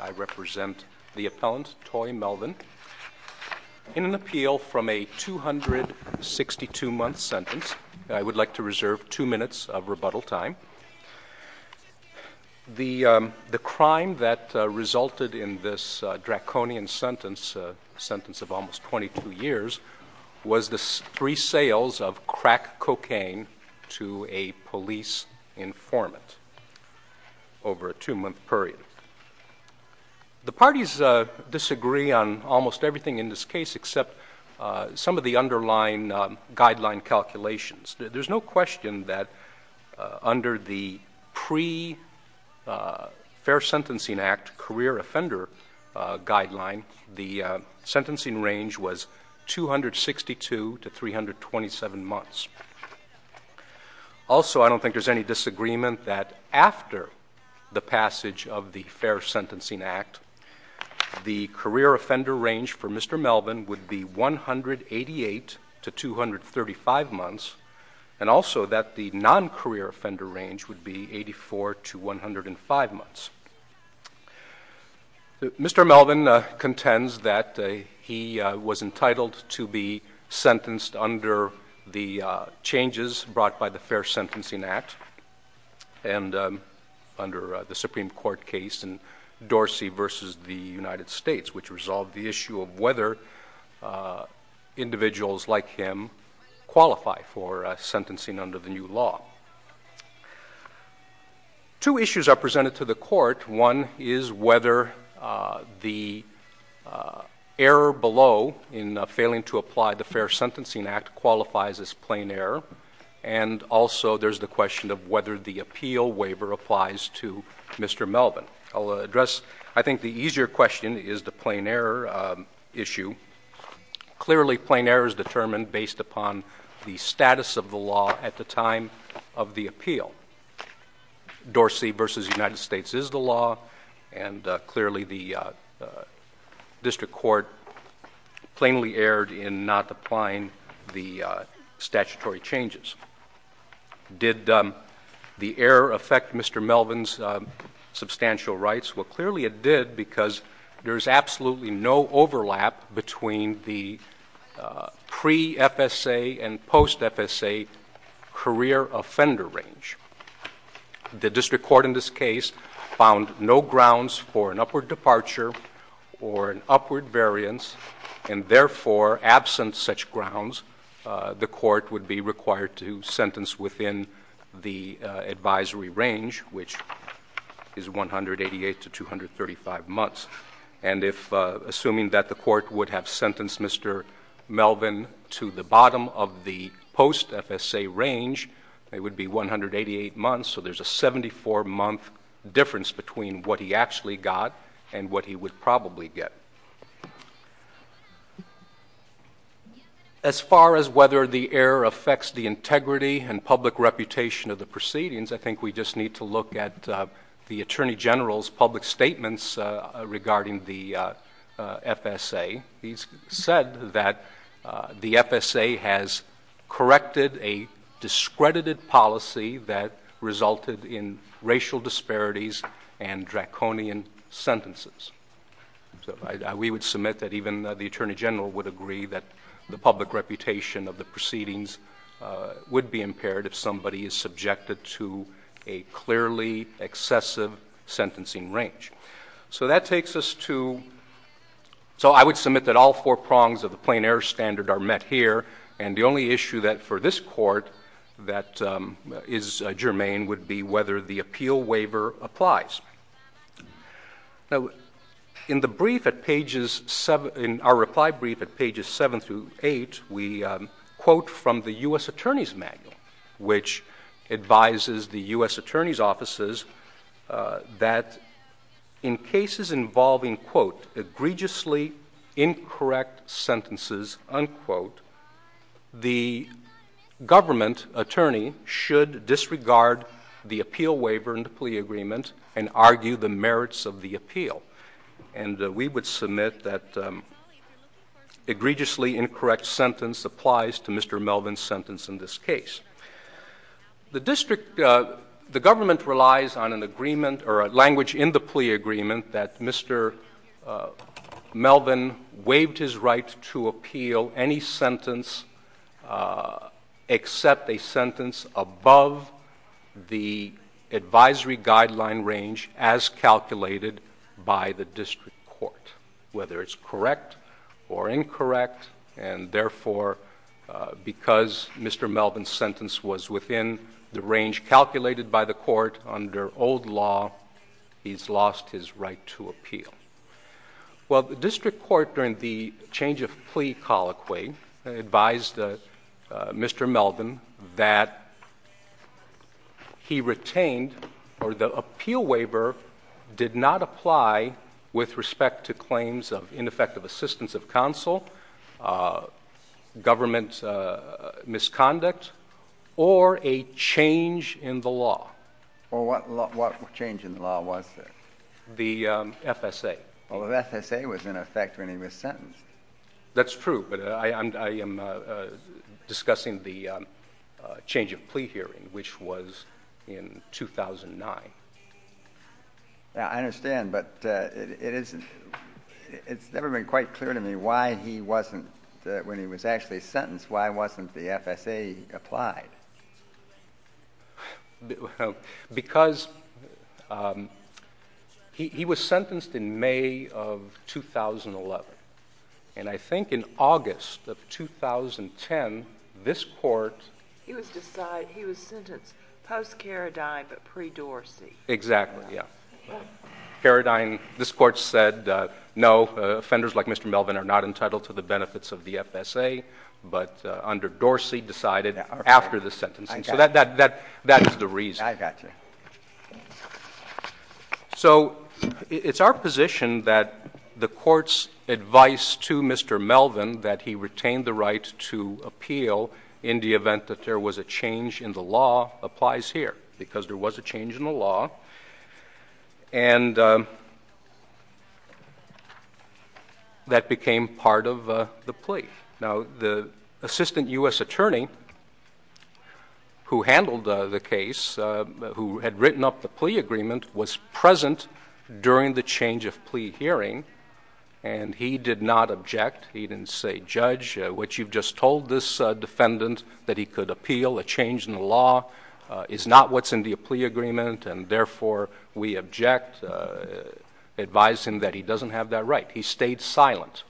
I represent the appellant, Toi Melvin, in an appeal from a 262-month sentence. I would like to reserve two minutes of rebuttal time. The crime that resulted in this draconian sentence, a sentence of almost 22 years, was the free sales of crack cocaine to a police informant over a two-month period. The parties disagree on almost everything in this case except some of the underlying guideline calculations. There's no question that under the pre-Fair Sentencing Act career offender guideline, the sentencing range was 262 to 327 months. Also, I don't think there's any disagreement that after the passage of the Fair Sentencing Act the career offender range for Mr. Melvin would be 188 to 235 months and also that the non-career offender range would be 84 to 105 months. Mr. Melvin contends that he was entitled to be sentenced under the changes brought by the Fair Sentencing Act and under the Supreme Court case in Dorsey v. the United States, which resolved the issue of whether individuals like him qualify for sentencing under the new law. Two issues are presented to the court. One is whether the error below in failing to apply the Fair Sentencing Act qualifies as plain error and also there's the question of whether the appeal waiver applies to Mr. Melvin. I'll address I think the easier question is the plain error issue. Clearly, plain error is determined based upon the status of the law at the time of the appeal. Dorsey v. United States is the first state in the United States to pass the Fair Sentencing Act and clearly the district court plainly erred in not applying the statutory changes. Did the error affect Mr. Melvin's substantial rights? Well, clearly it did because there's absolutely no overlap between the grounds for an upward departure or an upward variance and therefore absent such grounds, the court would be required to sentence within the advisory range, which is 188 to 235 months. And if assuming that the court would have sentenced Mr. Melvin to the bottom of the got and what he would probably get. As far as whether the error affects the integrity and public reputation of the proceedings, I think we just need to look at the Attorney General's public statements regarding the FSA. He's said that the FSA has corrected a discredited policy that sentences. We would submit that even the Attorney General would agree that the public reputation of the proceedings would be impaired if somebody is subjected to a clearly excessive sentencing range. So that takes us to, so I would submit that all four prongs of the plain error standard are met here and the only issue that for this court that is germane would be whether the appeal waiver applies. Now, in the brief at pages seven, in our reply brief at pages seven through eight, we quote from the U.S. Attorney's manual, which advises the U.S. Attorney's offices that in cases involving quote, egregiously incorrect sentences, unquote, the government attorney should disregard the appeal waiver and the plea agreement and argue the merits of the appeal. And we would submit that egregiously incorrect sentence applies to Mr. Melvin's sentence in this case. The district, the government relies on an agreement or a language in the plea agreement that Mr. Melvin waived his right to appeal any sentence except a sentence above the advisory guideline range as calculated by the district court, whether it's correct or incorrect. And therefore, because Mr. Melvin's sentence was within the range calculated by the court under old law, he's lost his right to appeal. Well, the district court during the change of plea colloquy advised Mr. Melvin that he retained or the appeal waiver did not apply with respect to claims of what change in the law was the FSA. Well, the FSA was in effect when he was sentenced. That's true. But I am discussing the change of plea hearing, which was in 2009. Yeah, I understand. But it is it's never been quite clear to me why he wasn't when he was actually sentenced. Why wasn't the FSA applied? Well, because he was sentenced in May of 2011. And I think in August of 2010, this court. He was sentenced post-Karadine, but pre-Dorsey. Exactly, yeah. Karadine, this court said, no, offenders like Mr. Melvin are not entitled to benefits of the FSA, but under Dorsey decided after the sentence. And so that is the reason. I got you. So it's our position that the court's advice to Mr. Melvin that he retained the right to appeal in the event that there was a change in the law applies here because there was a change in the law and that became part of the plea. Now, the assistant U.S. attorney who handled the case, who had written up the plea agreement, was present during the change of plea hearing, and he did not object. He didn't say, Judge, what you've just told this defendant, that he could appeal a change in the law is not what's in the plea agreement and therefore we object, advise him that he doesn't have that right. He stayed silent.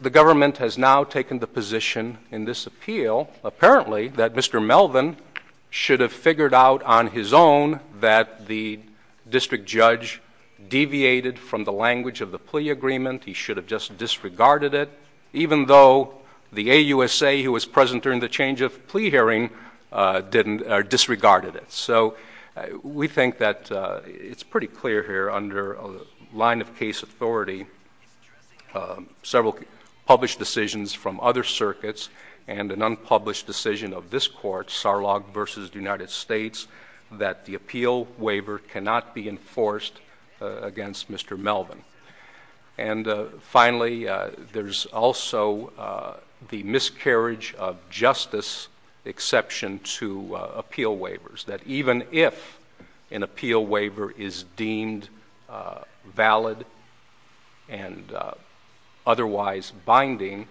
The government has now taken the position in this appeal, apparently, that Mr. Melvin should have figured out on his own that the district judge deviated from the language of the plea agreement. He should have just disregarded it, even though the AUSA who was present during the change of plea hearing disregarded it. So we think that it's pretty clear here under a line of case authority, several published decisions from other circuits, and an unpublished decision of this court, Sarlog v. United States, that the appeal waiver cannot be enforced against Mr. Melvin. And finally, there's also the miscarriage of justice exception to appeal waivers, that even if an appeal waiver is deemed valid and otherwise binding,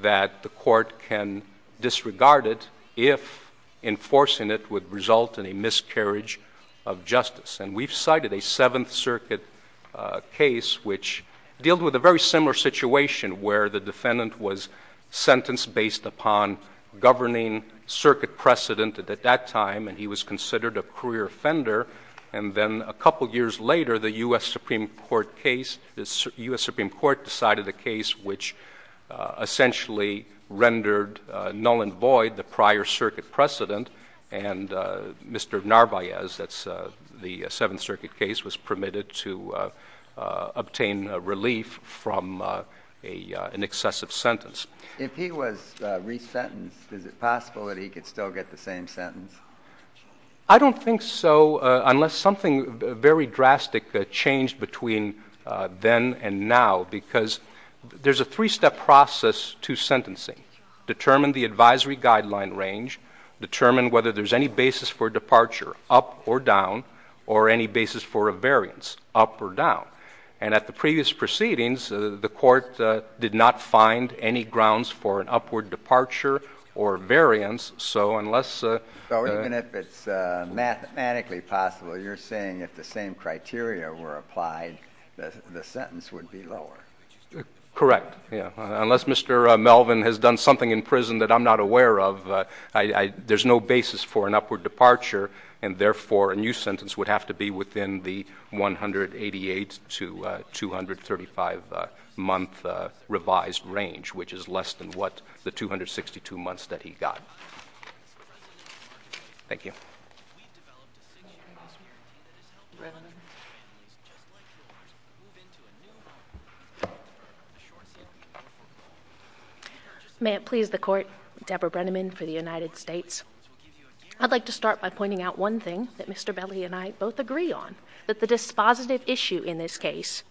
that the court can disregard it if enforcing it would result in a miscarriage of justice. And we've cited a Seventh Circuit case which dealed with a very similar situation where the defendant was sentenced based upon governing circuit precedent at that time, and he was considered a career offender. And then a couple years later, the U.S. Supreme Court case, the U.S. Supreme Court decided a case which essentially rendered null and void the prior circuit precedent. And Mr. Narvaez, that's the Seventh Circuit case, was permitted to obtain relief from an excessive sentence. If he was resentenced, is it possible that he could still get the same sentence? I don't think so, unless something very drastic changed between then and now, because there's a three-step process to sentencing. Determine the advisory guideline range, determine whether there's any basis for departure, up or down, or any basis for a variance, up or down. And at the previous proceedings, the court did not find any grounds for an upward departure or variance, so unless... So even if it's mathematically possible, you're saying if the same criteria were applied, the sentence would be lower? Correct. Unless Mr. Melvin has done something in prison that I'm not aware of, there's no basis for an upward departure, and therefore a new sentence would have to be within the 188 to 235-month revised range, which is less than what the 262 months that he got. Thank you. May it please the court, Deborah Brenneman for the United States. I'd like to start by pointing out one thing that Mr. Belli and I both agree on, that the dispositive issue in this case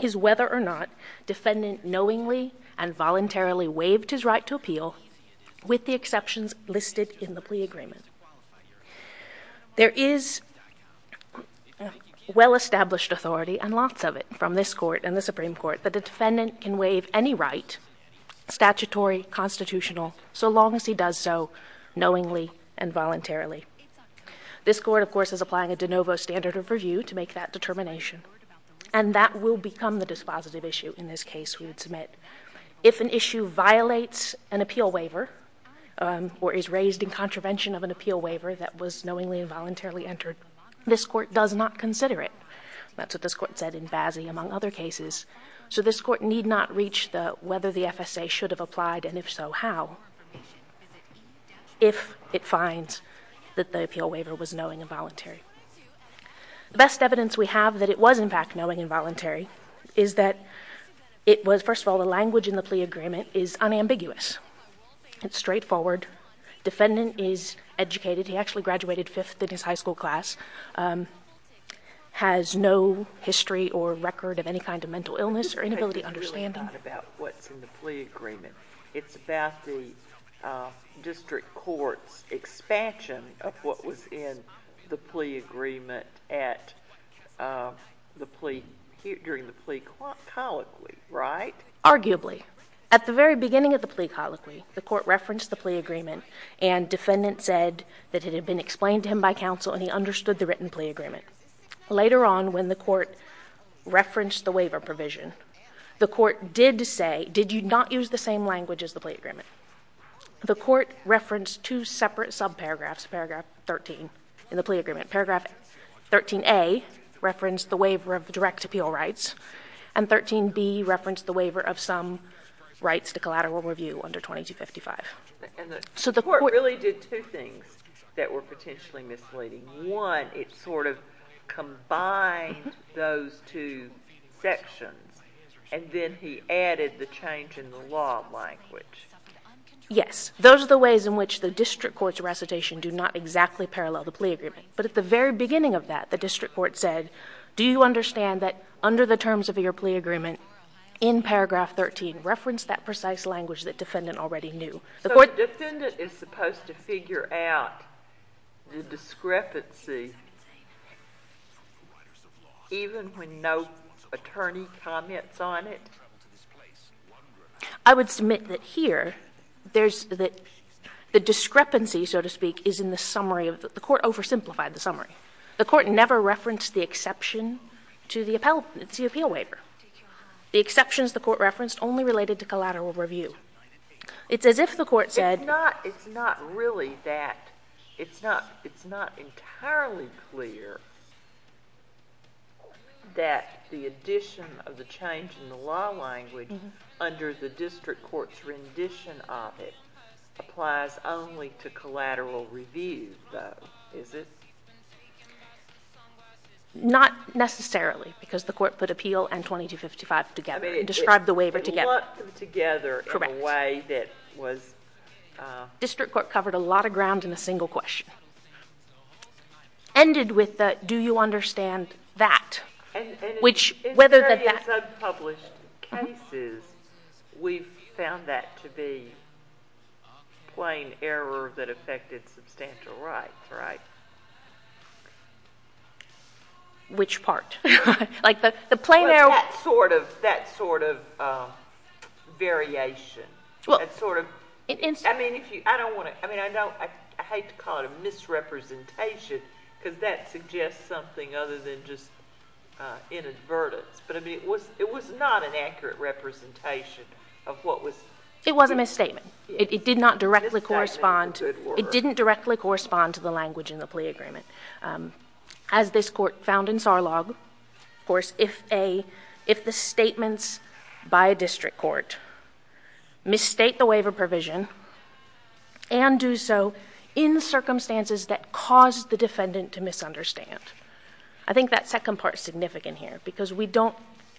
is whether or not defendant knowingly and voluntarily waived his right to appeal with the exceptions listed in the plea agreement. There is well-established authority, and lots of it, from this court and the Supreme Court that the defendant can waive any right, statutory, constitutional, so long as he does so knowingly and voluntarily. This court, of course, is applying a de novo standard of review to make that determination, and that will become the dispositive issue in this case we would submit. If an issue violates an appeal waiver or is raised in contravention of an appeal waiver that was knowingly and voluntarily entered, this court does not consider it. That's what this court said in Bazzi, among other cases. So this court need not reach whether the FSA should have applied, and if so, how, if it finds that the appeal waiver was knowing and voluntary. The best evidence we have that it was, in fact, knowing and voluntary is that it was, first of all, the language in the plea agreement is unambiguous. It's straightforward. Defendant is educated. He actually graduated fifth in his high school class, has no history or record of any kind of mental illness or inability to understand. It's really not about what's in the plea agreement. It's about the district court's plea agreement during the plea colloquy, right? Arguably. At the very beginning of the plea colloquy, the court referenced the plea agreement, and defendant said that it had been explained to him by counsel and he understood the written plea agreement. Later on, when the court referenced the waiver provision, the court did say, did you not use the same language as the plea agreement? The court referenced two separate sub-paragraphs, paragraph 13 in the plea agreement. Paragraph 13A referenced the waiver of direct appeal rights, and 13B referenced the waiver of some rights to collateral review under 2255. And the court really did two things that were potentially misleading. One, it sort of combined those two sections, and then he added the change in the law language. Yes. Those are the ways in which the district court's recitation do not exactly parallel the plea agreement. But at the very beginning of that, the district court said, do you understand that under the terms of your plea agreement, in paragraph 13, reference that precise language that defendant already knew. So the defendant is supposed to figure out the discrepancy even when no attorney comments on it? I would submit that here, there's that the discrepancy, so to speak, is in the summary of the court oversimplified the summary. The court never referenced the exception to the appeal waiver. The exceptions the court referenced only related to collateral review. It's as if the court said it's not really that it's not it's not entirely clear that the addition of the change in the law language under the district court's rendition of it applies only to collateral review, though, is it? Not necessarily, because the court put appeal and 2255 together, described the waiver together, together in a way that was. District court covered a lot of ground in a single question. Ended with that, do you understand that? Which, whether that is unpublished cases, we found that to be plain error that affected substantial rights, right? Which part? Like the plain error. It's that sort of variation. I mean, if you, I don't want to, I mean, I hate to call it a misrepresentation, because that suggests something other than just inadvertence. But I mean, it was not an accurate representation of what was. It was a misstatement. It did not directly correspond. It didn't directly correspond to the language in the plea agreement. As this court found in Sarlog, of course, if the statements by a district court misstate the waiver provision and do so in circumstances that caused the defendant to misunderstand. I think that second part is significant here, because we don't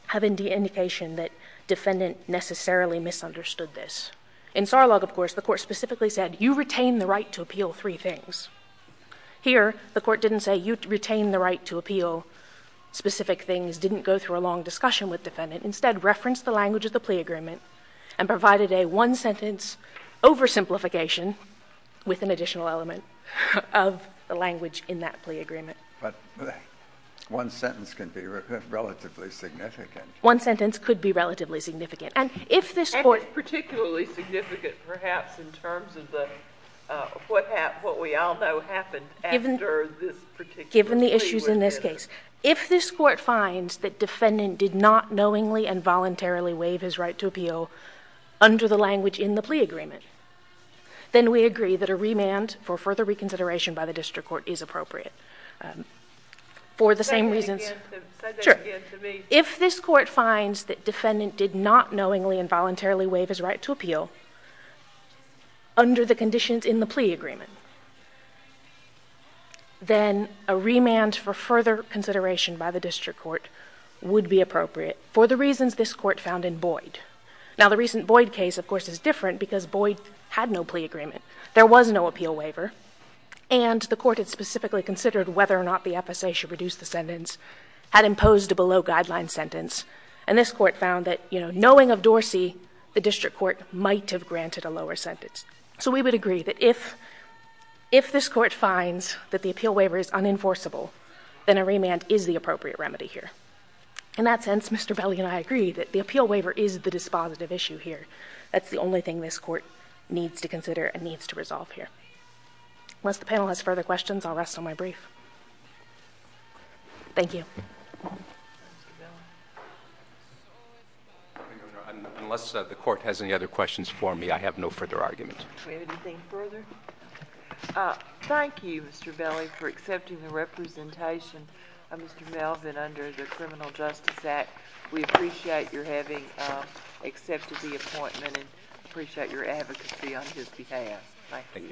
have any indication that defendant necessarily misunderstood this. In Sarlog, of course, the court specifically said, you retain the right to appeal three things. Here, the court didn't say you retain the right to appeal specific things, didn't go through a long discussion with defendant. Instead, referenced the language of the plea agreement and provided a one-sentence oversimplification with an additional element of the language in that plea agreement. But one sentence can be relatively significant. One sentence could be relatively significant. And if this court finds that defendant did not knowingly and voluntarily waive his right to appeal under the language in the plea agreement, then we agree that a remand for further reconsideration by the district court is appropriate. For the same reasons... Say that again to me. If this court finds that defendant did not knowingly and voluntarily waive his right to appeal under the conditions in the plea agreement, then a remand for further consideration by the district court would be appropriate for the reasons this court found in Boyd. Now, the recent Boyd case, of course, is different because Boyd had no plea agreement. There was no appeal waiver. And the court had specifically considered whether or not the FSA should reduce the sentence, had imposed a below guideline sentence. And this court found that knowing of Dorsey, the district court might have granted a lower sentence. So we would agree that if this court finds that the appeal waiver is unenforceable, then a remand is the appropriate remedy here. In that sense, Mr. Belli and I agree that the appeal waiver is the dispositive issue here. That's the only thing this court needs to consider and needs to resolve here. Unless the panel has further questions, I'll rest on my brief. Thank you. Unless the court has any other questions for me, I have no further arguments. Anything further? Thank you, Mr. Belli, for accepting the representation of Mr. Melvin under the Criminal Justice Act. We appreciate your having accepted the appointment and appreciate your advocacy on his behalf. Thank you.